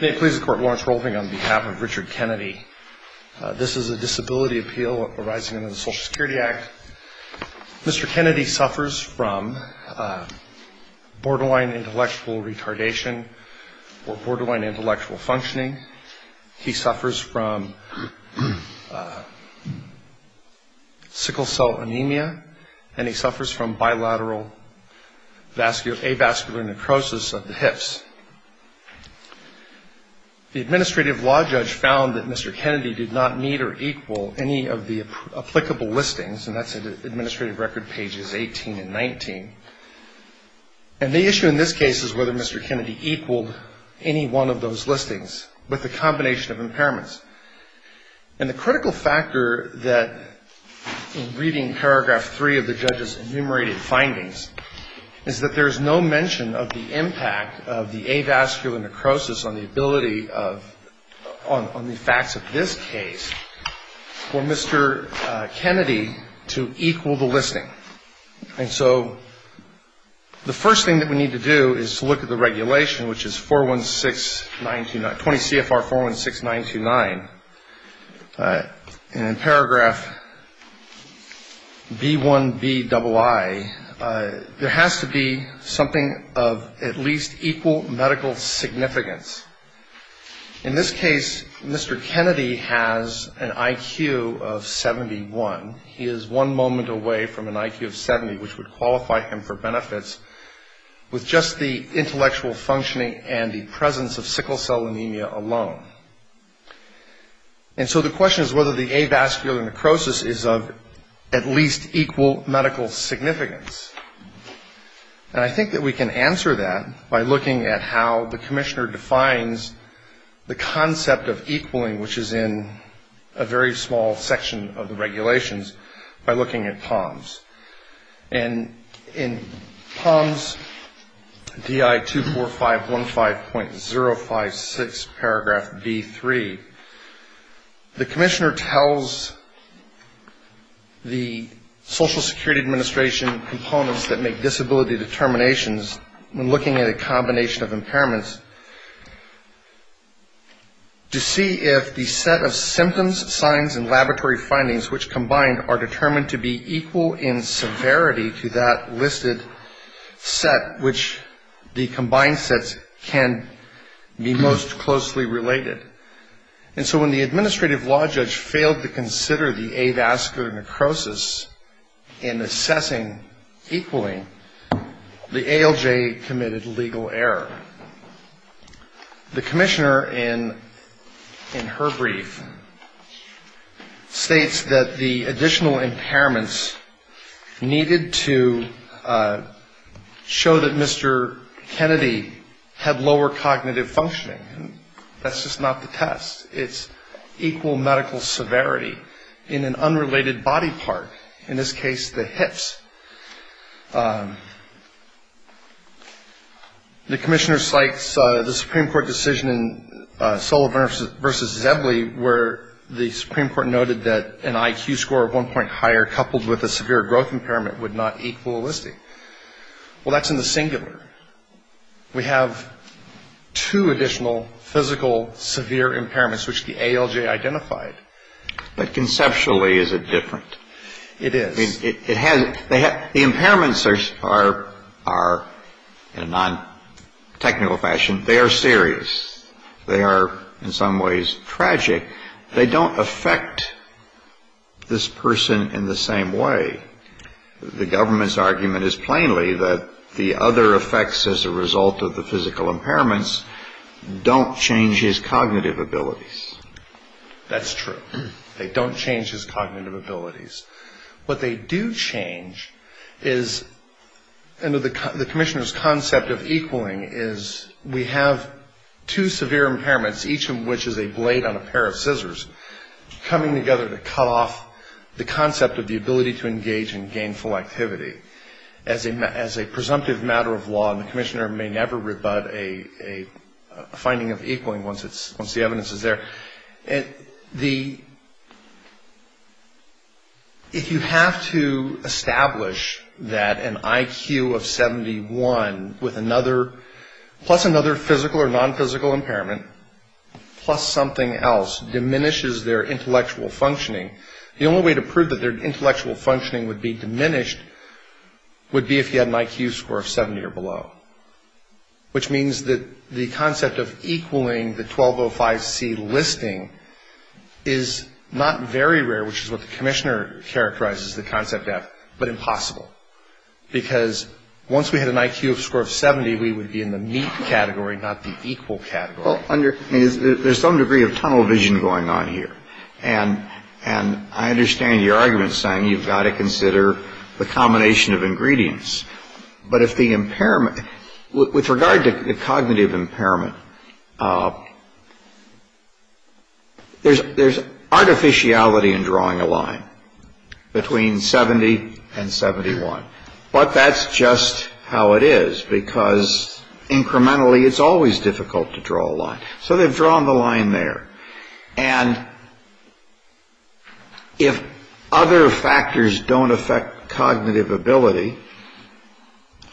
May it please the Court, Lawrence Rolving on behalf of Richard Kennedy. This is a disability appeal arising under the Social Security Act. Mr. Kennedy suffers from borderline intellectual retardation or borderline intellectual functioning. He suffers from sickle cell anemia, and he suffers from bilateral avascular necrosis of the hips. The administrative law judge found that Mr. Kennedy did not meet or equal any of the applicable listings, and that's in Administrative Record pages 18 and 19. And the issue in this case is whether Mr. Kennedy equaled any one of those listings with the combination of impairments. And the critical factor that, in reading paragraph 3 of the judge's enumerated findings, is that there is no mention of the impact of the avascular necrosis on the ability of, on the facts of this case, for Mr. Kennedy to equal the listing. And so the first thing that we need to do is to look at the regulation, which is 416929, 20 CFR 416929. And in paragraph B1Bii, there has to be something of at least equal medical significance. In this case, Mr. Kennedy has an IQ of 71. He is one moment away from an IQ of 70, which would qualify him for benefits, with just the intellectual functioning and the presence of sickle cell anemia alone. And so the question is whether the avascular necrosis is of at least equal medical significance. And I think that we can answer that by looking at how the commissioner defines the concept of equaling, which is in a very small section of the regulations, by looking at POMS. And in POMS DI 24515.056, paragraph B3, the commissioner tells the Social Security Administration components that make disability determinations when looking at a combination of impairments to see if the set of symptoms, signs, and laboratory findings, which combined, are determined to be equal in severity to that listed set, which the combined sets can be most closely related. And so when the administrative law judge failed to consider the avascular necrosis in assessing equaling, the ALJ committed legal error. The commissioner, in her brief, states that the additional impairments needed to show that Mr. Kennedy had lower cognitive functioning. That's just not the test. It's equal medical severity in an unrelated body part. In this case, the hips. The commissioner cites the Supreme Court decision in Sullivan v. Zebley, where the Supreme Court noted that an IQ score of one point higher, coupled with a severe growth impairment, would not equal a listing. Well, that's in the singular. We have two additional physical severe impairments, which the ALJ identified. But conceptually, is it different? It is. The impairments are, in a non-technical fashion, they are serious. They are, in some ways, tragic. They don't affect this person in the same way. The government's argument is plainly that the other effects as a result of the physical impairments don't change his cognitive abilities. That's true. They don't change his cognitive abilities. What they do change is, under the commissioner's concept of equaling, is we have two severe impairments, each of which is a blade on a pair of scissors, coming together to cut off the concept of the ability to engage in gainful activity. As a presumptive matter of law, and the commissioner may never rebut a finding of equaling once the evidence is there, if you have to establish that an IQ of 71, plus another physical or non-physical impairment, plus something else, diminishes their intellectual functioning, the only way to prove that their intellectual functioning would be diminished would be if you had an IQ score of 70 or below. Which means that the concept of equaling the 1205C listing is not very rare, which is what the commissioner characterizes the concept of, but impossible. Because once we had an IQ score of 70, we would be in the meet category, not the equal category. There's some degree of tunnel vision going on here. And I understand your argument saying you've got to consider the combination of ingredients. But with regard to the cognitive impairment, there's artificiality in drawing a line between 70 and 71. But that's just how it is, because incrementally it's always difficult to draw a line. So they've drawn the line there. And if other factors don't affect cognitive ability,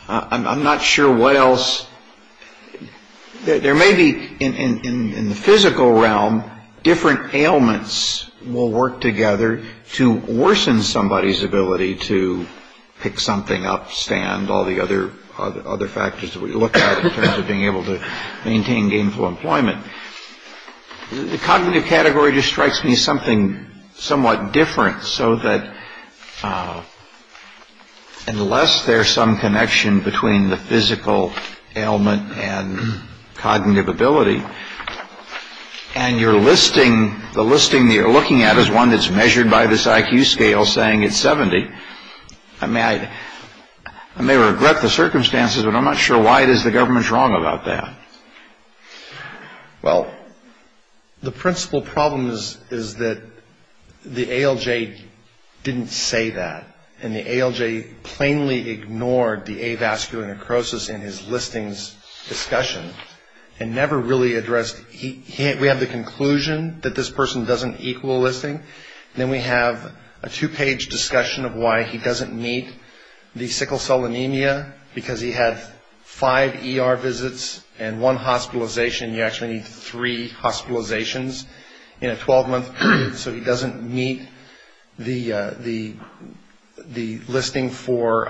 I'm not sure what else. There may be, in the physical realm, different ailments we'll work together to worsen somebody's ability to pick something up, stand, all the other factors that we look at in terms of being able to maintain gainful employment. The cognitive category just strikes me as something somewhat different, so that unless there's some connection between the physical ailment and cognitive ability, and the listing that you're looking at is one that's measured by this IQ scale saying it's 70, I may regret the circumstances, but I'm not sure why it is the government's wrong about that. Well, the principal problem is that the ALJ didn't say that, and the ALJ plainly ignored the avascular necrosis in his listings discussion and never really addressed. We have the conclusion that this person doesn't equal a listing, and then we have a two-page discussion of why he doesn't meet the sickle cell anemia, because he had five ER visits and one hospitalization. You actually need three hospitalizations in a 12-month period, so he doesn't meet the listing for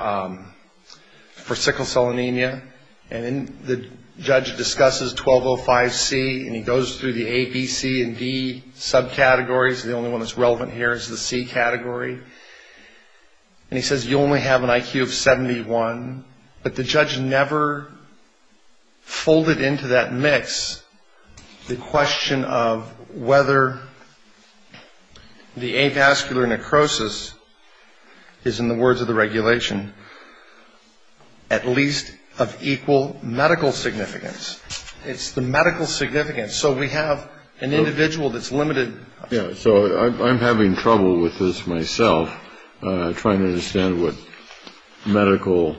sickle cell anemia. And then the judge discusses 1205C, and he goes through the A, B, C, and D subcategories. The only one that's relevant here is the C category. And he says you only have an IQ of 71. But the judge never folded into that mix the question of whether the avascular necrosis is, in the words of the regulation, at least of equal medical significance. It's the medical significance. So we have an individual that's limited. Yeah, so I'm having trouble with this myself, trying to understand what medical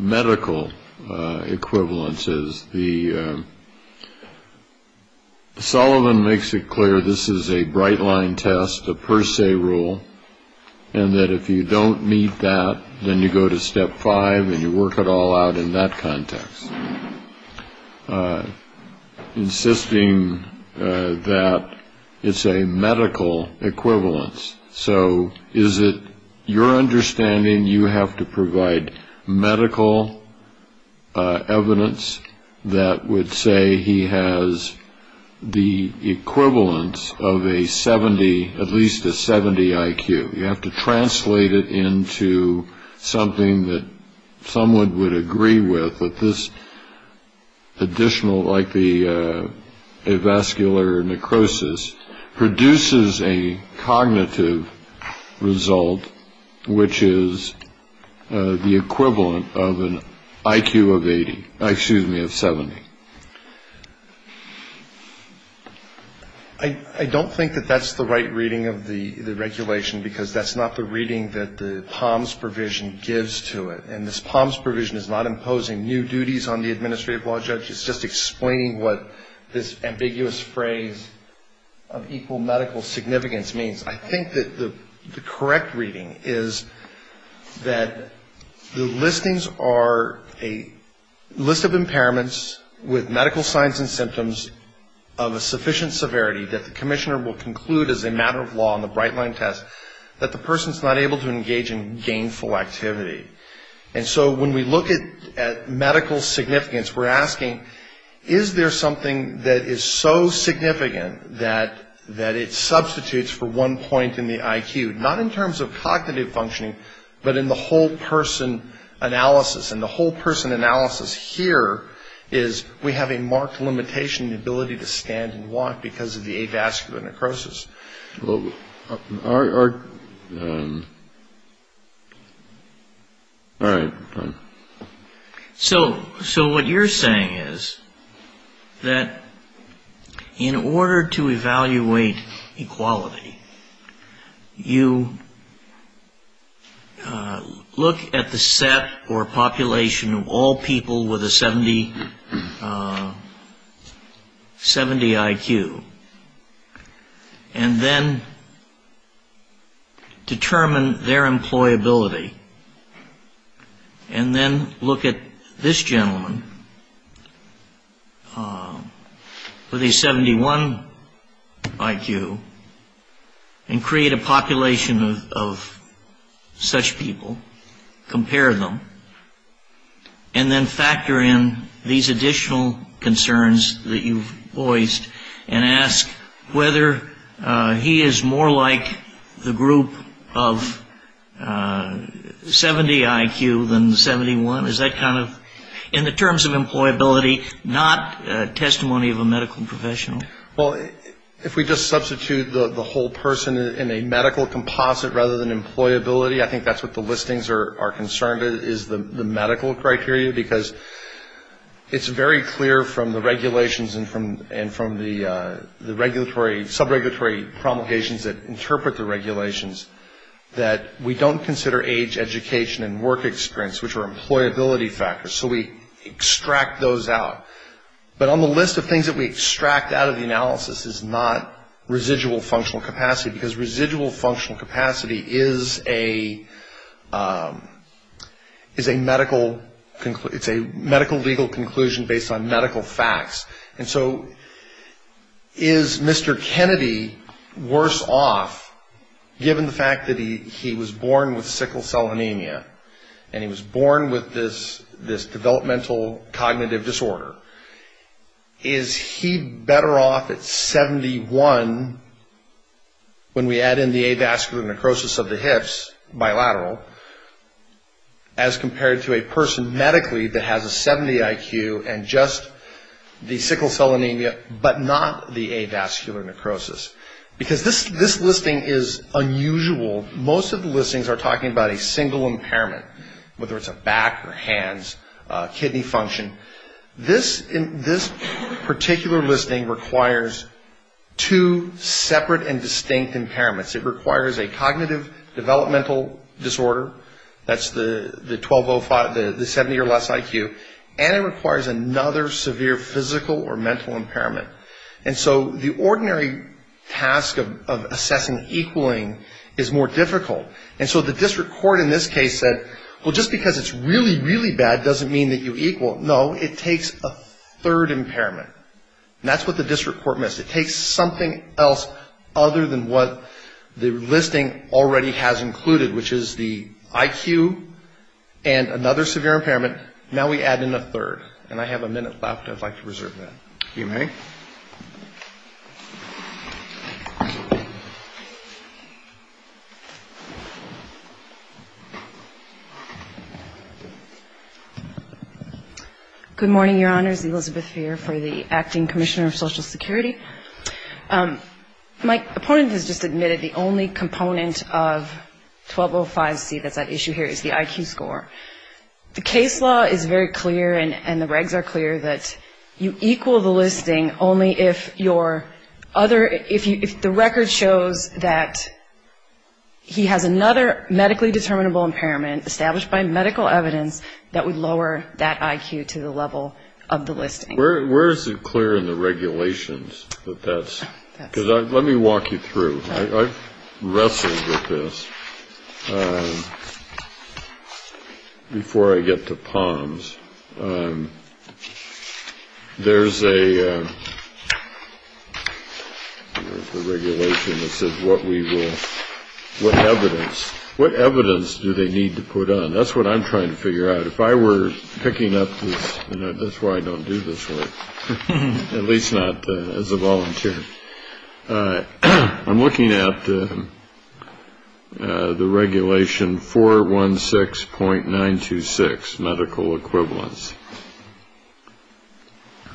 equivalence is. Sullivan makes it clear this is a bright-line test, a per se rule, and that if you don't meet that, then you go to step five and you work it all out in that context, insisting that it's a medical equivalence. So is it your understanding you have to provide medical evidence that would say he has the equivalence of a 70, at least a 70 IQ? You have to translate it into something that someone would agree with, that this additional, like the avascular necrosis, produces a cognitive result, which is the equivalent of an IQ of 80, excuse me, of 70. I don't think that that's the right reading of the regulation, because that's not the reading that the POMS provision gives to it. And this POMS provision is not imposing new duties on the administrative law judge. It's just explaining what this ambiguous phrase of equal medical significance means. I think that the correct reading is that the listings are a list of impairments with medical signs and symptoms of a sufficient severity that the commissioner will conclude as a matter of law in the bright-line test that the person's not able to engage in gainful activity. And so when we look at medical significance, we're asking, is there something that is so significant that it substitutes for one point in the IQ, not in terms of cognitive functioning, but in the whole-person analysis? And the whole-person analysis here is we have a marked limitation in the ability to stand and walk because of the avascular necrosis. All right. So what you're saying is that in order to evaluate equality, you look at the set or population of all people with a 70 IQ and then determine their employability, and then look at this gentleman with a 71 IQ and create a population of such people, compare them, and then factor in these additional concerns that you've voiced and ask whether he is more like the group of 70 IQ than 71. Is that kind of, in the terms of employability, not testimony of a medical professional? Well, if we just substitute the whole person in a medical composite rather than employability, I think that's what the listings are concerned with, is the medical criteria, because it's very clear from the regulations and from the sub-regulatory promulgations that interpret the regulations that we don't consider age, education, and work experience, which are employability factors. So we extract those out. But on the list of things that we extract out of the analysis is not residual functional capacity because residual functional capacity is a medical legal conclusion based on medical facts. And so is Mr. Kennedy worse off given the fact that he was born with sickle cell anemia and he was born with this developmental cognitive disorder? Is he better off at 71 when we add in the avascular necrosis of the hips, bilateral, as compared to a person medically that has a 70 IQ and just the sickle cell anemia but not the avascular necrosis? Because this listing is unusual. Most of the listings are talking about a single impairment, whether it's a back or hands, kidney function. This particular listing requires two separate and distinct impairments. It requires a cognitive developmental disorder, that's the 70 or less IQ, and it requires another severe physical or mental impairment. And so the ordinary task of assessing equaling is more difficult. And so the district court in this case said, well, just because it's really, really bad doesn't mean that you equal. No, it takes a third impairment. And that's what the district court missed. It takes something else other than what the listing already has included, which is the IQ and another severe impairment. Now we add in a third. And I have a minute left. I'd like to reserve that. You may. Good morning, Your Honors. Elizabeth Feer for the Acting Commissioner of Social Security. My opponent has just admitted the only component of 1205C that's at issue here is the IQ score. The case law is very clear and the regs are clear that you equal the listing only if your other, if the record shows that he has another medically determinable impairment established by medical evidence that would lower that IQ to the level of the listing. Where is it clear in the regulations that that's, because let me walk you through. I've wrestled with this before I get to POMS. There's a regulation that says what we will, what evidence, what evidence do they need to put on? That's what I'm trying to figure out. If I were picking up this, that's why I don't do this work, at least not as a volunteer. I'm looking at the regulation 416.926, medical equivalence.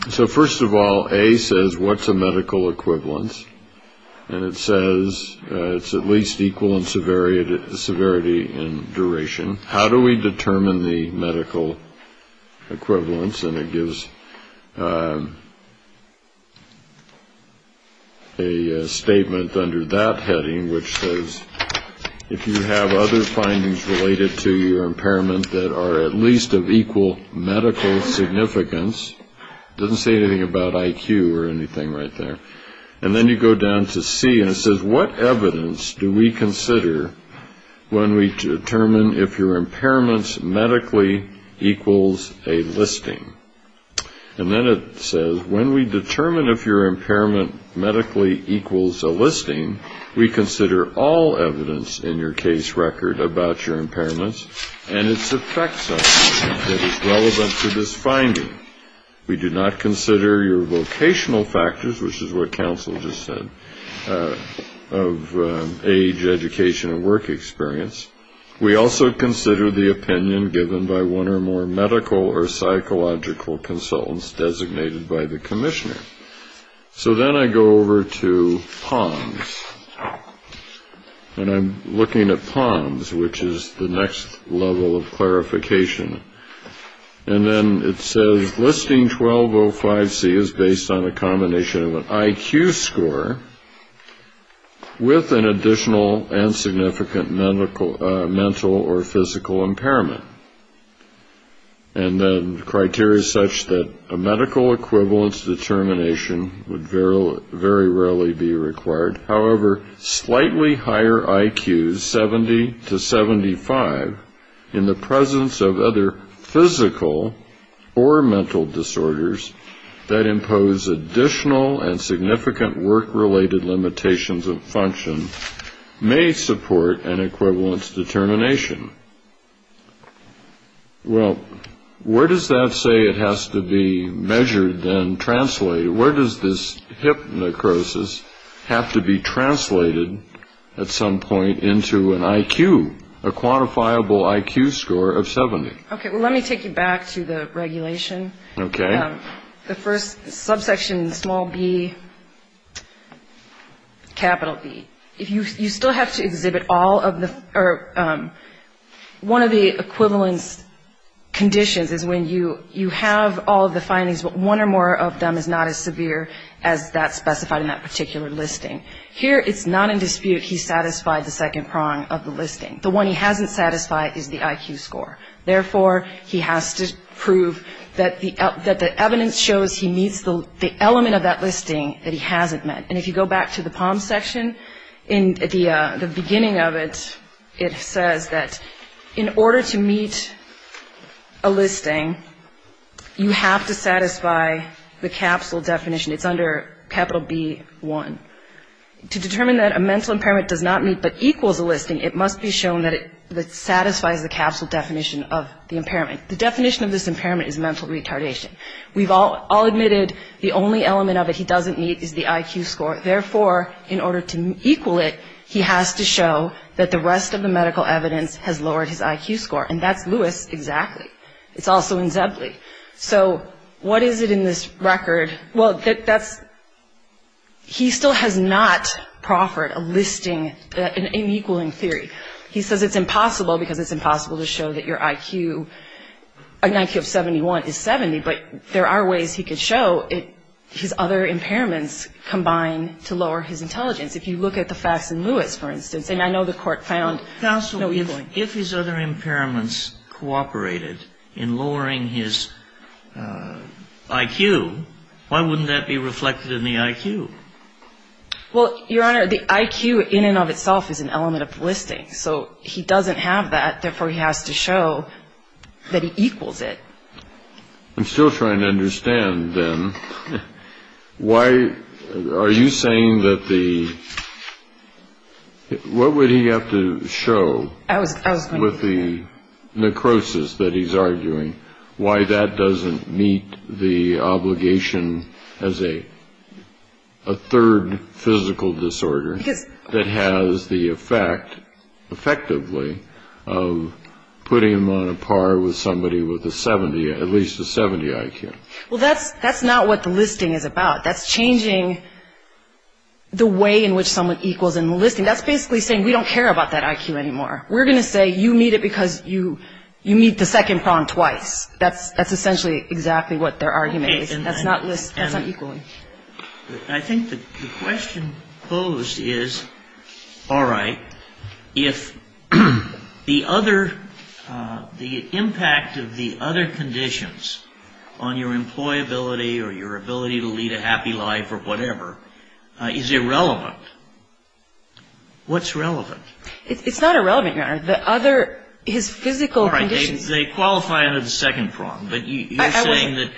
So first of all, A says what's a medical equivalence? And it says it's at least equal in severity and duration. How do we determine the medical equivalence? And it gives a statement under that heading which says if you have other findings related to your impairment that are at least of equal medical significance. It doesn't say anything about IQ or anything right there. And then you go down to C and it says what evidence do we consider when we determine if your impairment medically equals a listing? And then it says when we determine if your impairment medically equals a listing, we consider all evidence in your case record about your impairments and its effects on you that is relevant to this finding. We do not consider your vocational factors, which is what counsel just said, of age, education, and work experience. We also consider the opinion given by one or more medical or psychological consultants designated by the commissioner. So then I go over to POMS, and I'm looking at POMS, which is the next level of clarification. And then it says listing 1205C is based on a combination of an IQ score with an additional and significant mental or physical impairment, and then criteria such that a medical equivalence determination would very rarely be required. However, slightly higher IQs, 70 to 75, in the presence of other physical or mental disorders that impose additional and significant work-related limitations of function, may support an equivalence determination. Well, where does that say it has to be measured and translated? Where does this hip necrosis have to be translated at some point into an IQ, a quantifiable IQ score of 70? Okay, well, let me take you back to the regulation. Okay. The first subsection, small b, capital B, you still have to exhibit all of the or one of the equivalence conditions is when you have all of the findings, but one or more of them is not as severe as that specified in that particular listing. Here it's not in dispute he satisfied the second prong of the listing. The one he hasn't satisfied is the IQ score. Therefore, he has to prove that the evidence shows he meets the element of that listing that he hasn't met. And if you go back to the POM section, in the beginning of it, it says that in order to meet a listing, you have to satisfy the capsule definition. It's under capital B1. To determine that a mental impairment does not meet but equals a listing, it must be shown that it satisfies the capsule definition of the impairment. The definition of this impairment is mental retardation. We've all admitted the only element of it he doesn't meet is the IQ score. Therefore, in order to equal it, he has to show that the rest of the medical evidence has lowered his IQ score. And that's Lewis exactly. It's also in Zebley. So what is it in this record? Well, that's he still has not proffered a listing, an equaling theory. He says it's impossible because it's impossible to show that your IQ, an IQ of 71 is 70, but there are ways he could show his other impairments combine to lower his intelligence. If you look at the facts in Lewis, for instance, and I know the Court found no equaling. Counsel, if his other impairments cooperated in lowering his IQ, why wouldn't that be reflected in the IQ? Well, Your Honor, the IQ in and of itself is an element of the listing. So he doesn't have that. Therefore, he has to show that he equals it. I'm still trying to understand, then, why are you saying that the. What would he have to show with the necrosis that he's arguing, why that doesn't meet the obligation as a third physical disorder that has the effect, effectively, of putting him on a par with somebody with a 70, at least a 70 IQ? Well, that's that's not what the listing is about. That's changing the way in which someone equals in the listing. That's basically saying we don't care about that IQ anymore. We're going to say you meet it because you you meet the second prong twice. That's that's essentially exactly what their argument is. That's not equally. I think the question posed is, all right, if the other the impact of the other conditions on your employability or your ability to lead a happy life or whatever is irrelevant, what's relevant? It's not irrelevant, Your Honor. The other, his physical conditions. They qualify under the second prong, but you're saying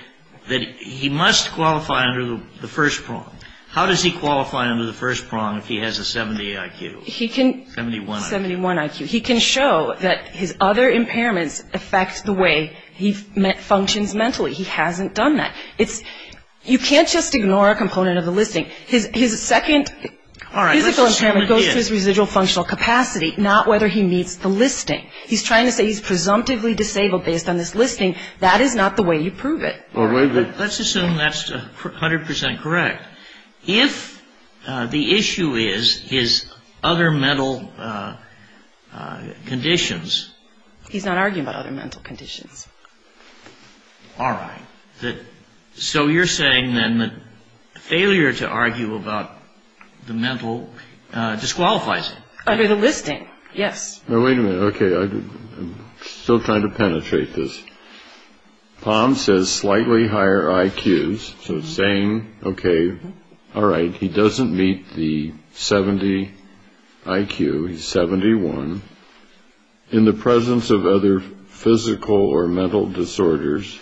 that he must qualify under the first prong. How does he qualify under the first prong if he has a 70 IQ? 71 IQ. He can show that his other impairments affect the way he functions mentally. He hasn't done that. You can't just ignore a component of the listing. His second physical impairment goes to his residual functional capacity, not whether he meets the listing. He's trying to say he's presumptively disabled based on this listing. That is not the way you prove it. Let's assume that's 100 percent correct. If the issue is his other mental conditions. He's not arguing about other mental conditions. All right. So you're saying then that failure to argue about the mental disqualifies him. Under the listing. Yes. Wait a minute. OK. I'm still trying to penetrate this. Palm says slightly higher IQs. So saying, OK. All right. He doesn't meet the 70 IQ. He's 71. In the presence of other physical or mental disorders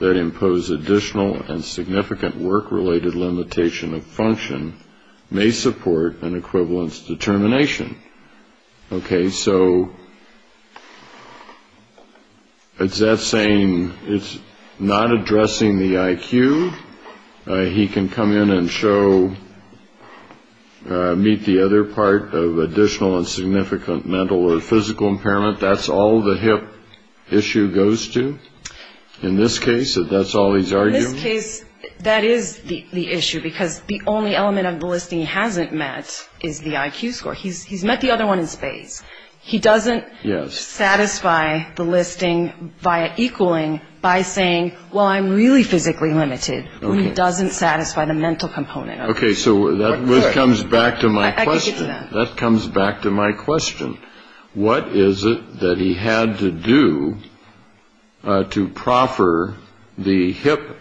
that impose additional and significant work related limitation of function may support an equivalence determination. OK. So it's that same. It's not addressing the IQ. He can come in and show meet the other part of additional and significant mental or physical impairment. That's all the hip issue goes to in this case. That is the issue, because the only element of the listing hasn't met is the IQ score. He's he's met the other one in space. He doesn't satisfy the listing by equaling by saying, well, I'm really physically limited. It doesn't satisfy the mental component. OK, so that comes back to my question. That comes back to my question. What is it that he had to do to proffer the hip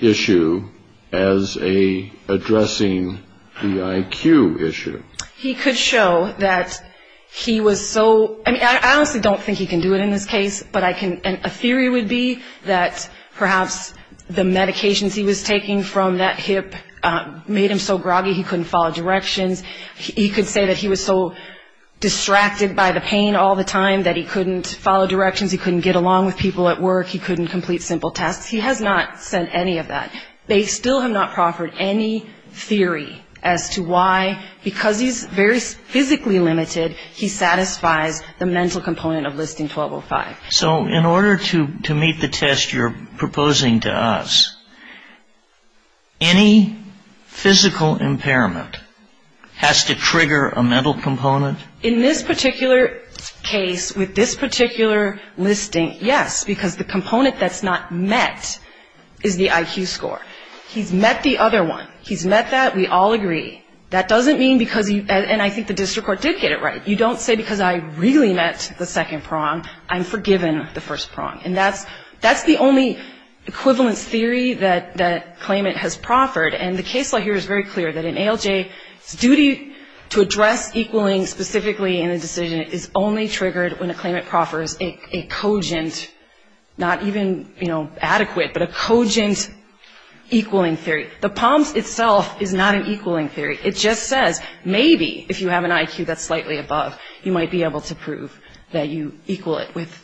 issue as a addressing the IQ issue? He could show that he was so. I honestly don't think he can do it in this case. But I can. A theory would be that perhaps the medications he was taking from that hip made him so groggy he couldn't follow directions. He could say that he was so distracted by the pain all the time that he couldn't follow directions. He couldn't get along with people at work. He couldn't complete simple tasks. He has not said any of that. They still have not proffered any theory as to why, because he's very physically limited, he satisfies the mental component of listing 1205. So in order to meet the test you're proposing to us, any physical impairment has to trigger a mental component? In this particular case, with this particular listing, yes, because the component that's not met is the IQ score. He's met the other one. He's met that. We all agree. That doesn't mean because you, and I think the district court did get it right, you don't say because I really met the second prong, I'm forgiven the first prong. And that's the only equivalence theory that claimant has proffered. And the case law here is very clear that an ALJ's duty to address equaling specifically in a decision is only triggered when a claimant proffers a cogent, not even, you know, adequate, but a cogent equaling theory. The POMS itself is not an equaling theory. It just says maybe if you have an IQ that's slightly above, you might be able to prove that you equal it with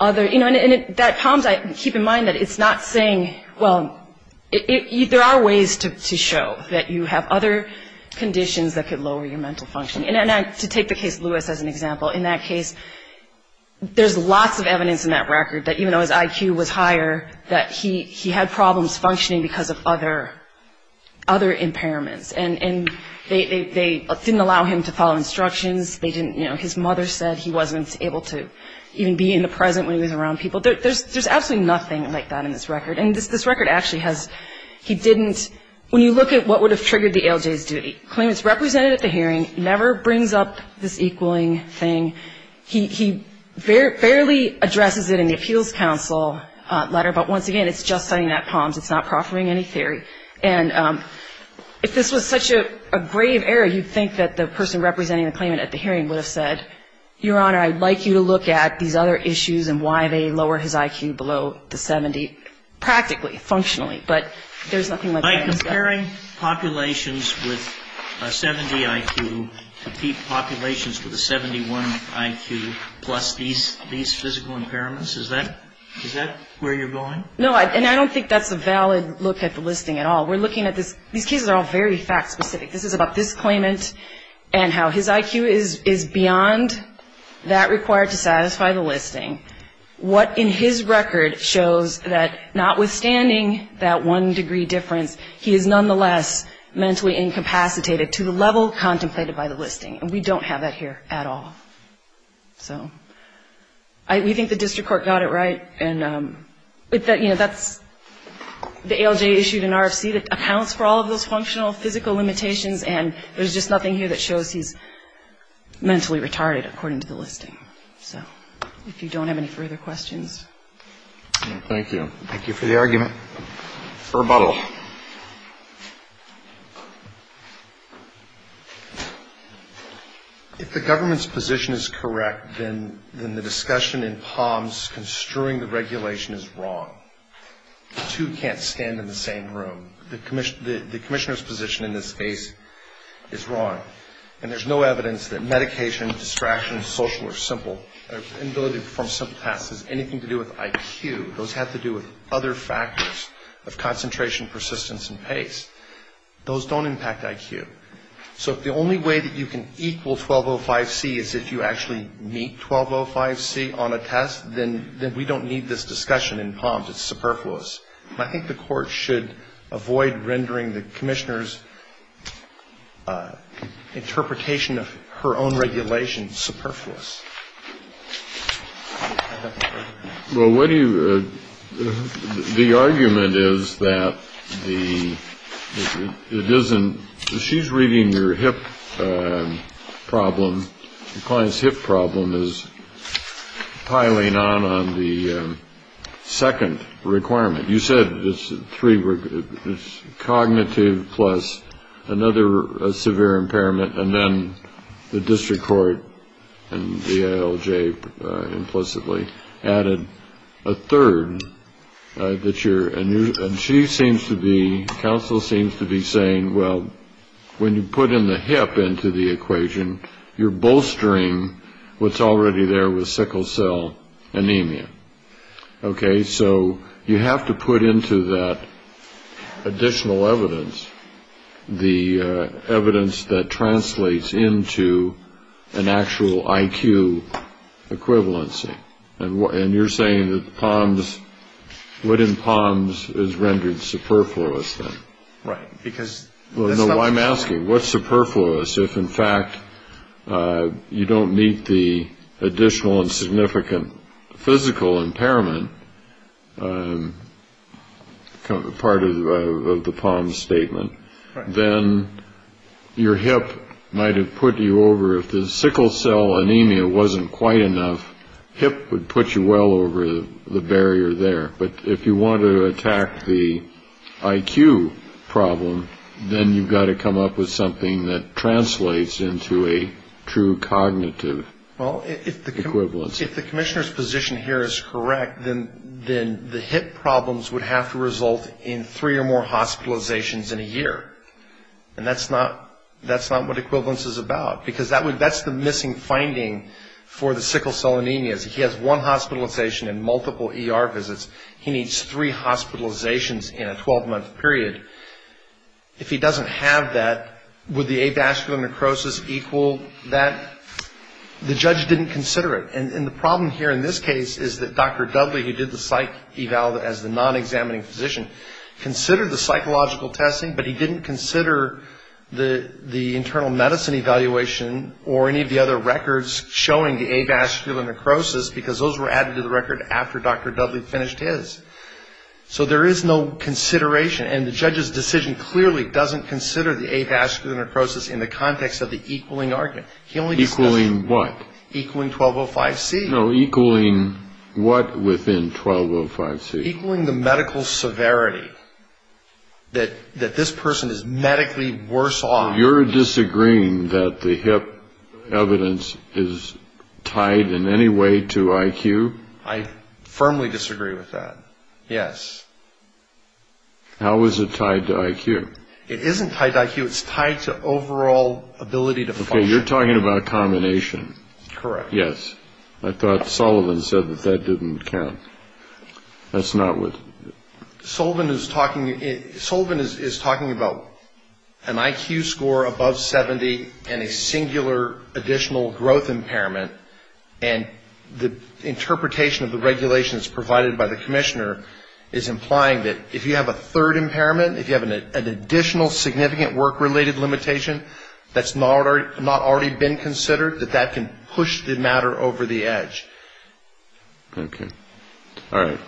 other, you know, and that POMS, keep in mind that it's not saying, well, there are ways to show that you have other conditions that could lower your mental function. And to take the case of Lewis as an example, in that case, there's lots of evidence in that record that even though his IQ was higher, that he had problems functioning because of other impairments. And they didn't allow him to follow instructions. They didn't, you know, his mother said he wasn't able to even be in the present when he was around people. There's absolutely nothing like that in this record. And this record actually has, he didn't, when you look at what would have triggered the ALJ's duty, claimant's representative at the hearing never brings up this equaling thing. He barely addresses it in the appeals counsel letter, but once again, it's just citing that POMS. It's not proffering any theory. And if this was such a grave error, you'd think that the person representing the claimant at the hearing would have said, Your Honor, I'd like you to look at these other issues and why they lower his IQ below the 70, practically, functionally. By comparing populations with a 70 IQ to populations with a 71 IQ plus these physical impairments, is that where you're going? No, and I don't think that's a valid look at the listing at all. We're looking at this, these cases are all very fact specific. This is about this claimant and how his IQ is beyond that required to satisfy the listing. What in his record shows that notwithstanding that one degree difference, he is nonetheless mentally incapacitated to the level contemplated by the listing. And we don't have that here at all. So we think the district court got it right. And, you know, that's the ALJ issued an RFC that accounts for all of those functional physical limitations, and there's just nothing here that shows he's mentally retarded according to the listing. So if you don't have any further questions. Thank you. Thank you for the argument. Rebuttal. If the government's position is correct, then the discussion in Palm's construing the regulation is wrong. The two can't stand in the same room. The commissioner's position in this case is wrong. And there's no evidence that medication, distraction, social, or simple, inability to perform simple tasks has anything to do with IQ. Those have to do with other factors of concentration, persistence, and pace. Those don't impact IQ. So if the only way that you can equal 1205C is if you actually meet 1205C on a test, then we don't need this discussion in Palm's. It's superfluous. And I think the Court should avoid rendering the commissioner's interpretation of her own regulation superfluous. Well, what do you ‑‑ the argument is that the ‑‑ it isn't ‑‑ she's reading your hip problem. The client's hip problem is piling on on the second requirement. You said it's three ‑‑ it's cognitive plus another severe impairment, and then the district court and DILJ implicitly added a third that you're ‑‑ and she seems to be, counsel seems to be saying, well, when you put in the hip into the equation, you're bolstering what's already there with sickle cell anemia. Okay. So you have to put into that additional evidence the evidence that translates into an actual IQ equivalency. And you're saying that Palm's ‑‑ what in Palm's is rendered superfluous then? Right. Well, no, I'm asking, what's superfluous if, in fact, you don't meet the additional and significant physical impairment part of the Palm's statement? Then your hip might have put you over, if the sickle cell anemia wasn't quite enough, hip would put you well over the barrier there. But if you want to attack the IQ problem, then you've got to come up with something that translates into a true cognitive equivalence. Well, if the commissioner's position here is correct, then the hip problems would have to result in three or more hospitalizations in a year. And that's not what equivalence is about, because that's the missing finding for the sickle cell anemia. He has one hospitalization and multiple ER visits. He needs three hospitalizations in a 12‑month period. If he doesn't have that, would the avascular necrosis equal that? The judge didn't consider it. And the problem here in this case is that Dr. Dudley, who did the psych eval as the non‑examining physician, considered the psychological testing, but he didn't consider the internal medicine evaluation or any of the other records showing the avascular necrosis, because those were added to the record after Dr. Dudley finished his. So there is no consideration. And the judge's decision clearly doesn't consider the avascular necrosis in the context of the equaling argument. Equaling what? Equaling 1205C. No, equaling what within 1205C? Equaling the medical severity that this person is medically worse off. So you're disagreeing that the hip evidence is tied in any way to IQ? I firmly disagree with that, yes. How is it tied to IQ? It isn't tied to IQ. It's tied to overall ability to function. Okay, you're talking about a combination. Correct. Yes. I thought Sullivan said that that didn't count. That's not what ‑‑ Sullivan is talking about an IQ score above 70 and a singular additional growth impairment, and the interpretation of the regulations provided by the commissioner is implying that if you have a third impairment, if you have an additional significant work-related limitation that's not already been considered, that that can push the matter over the edge. Okay. All right.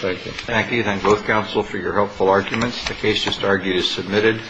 Thank you. Thank you. Thank both counsel for your helpful arguments. The case just argued is submitted.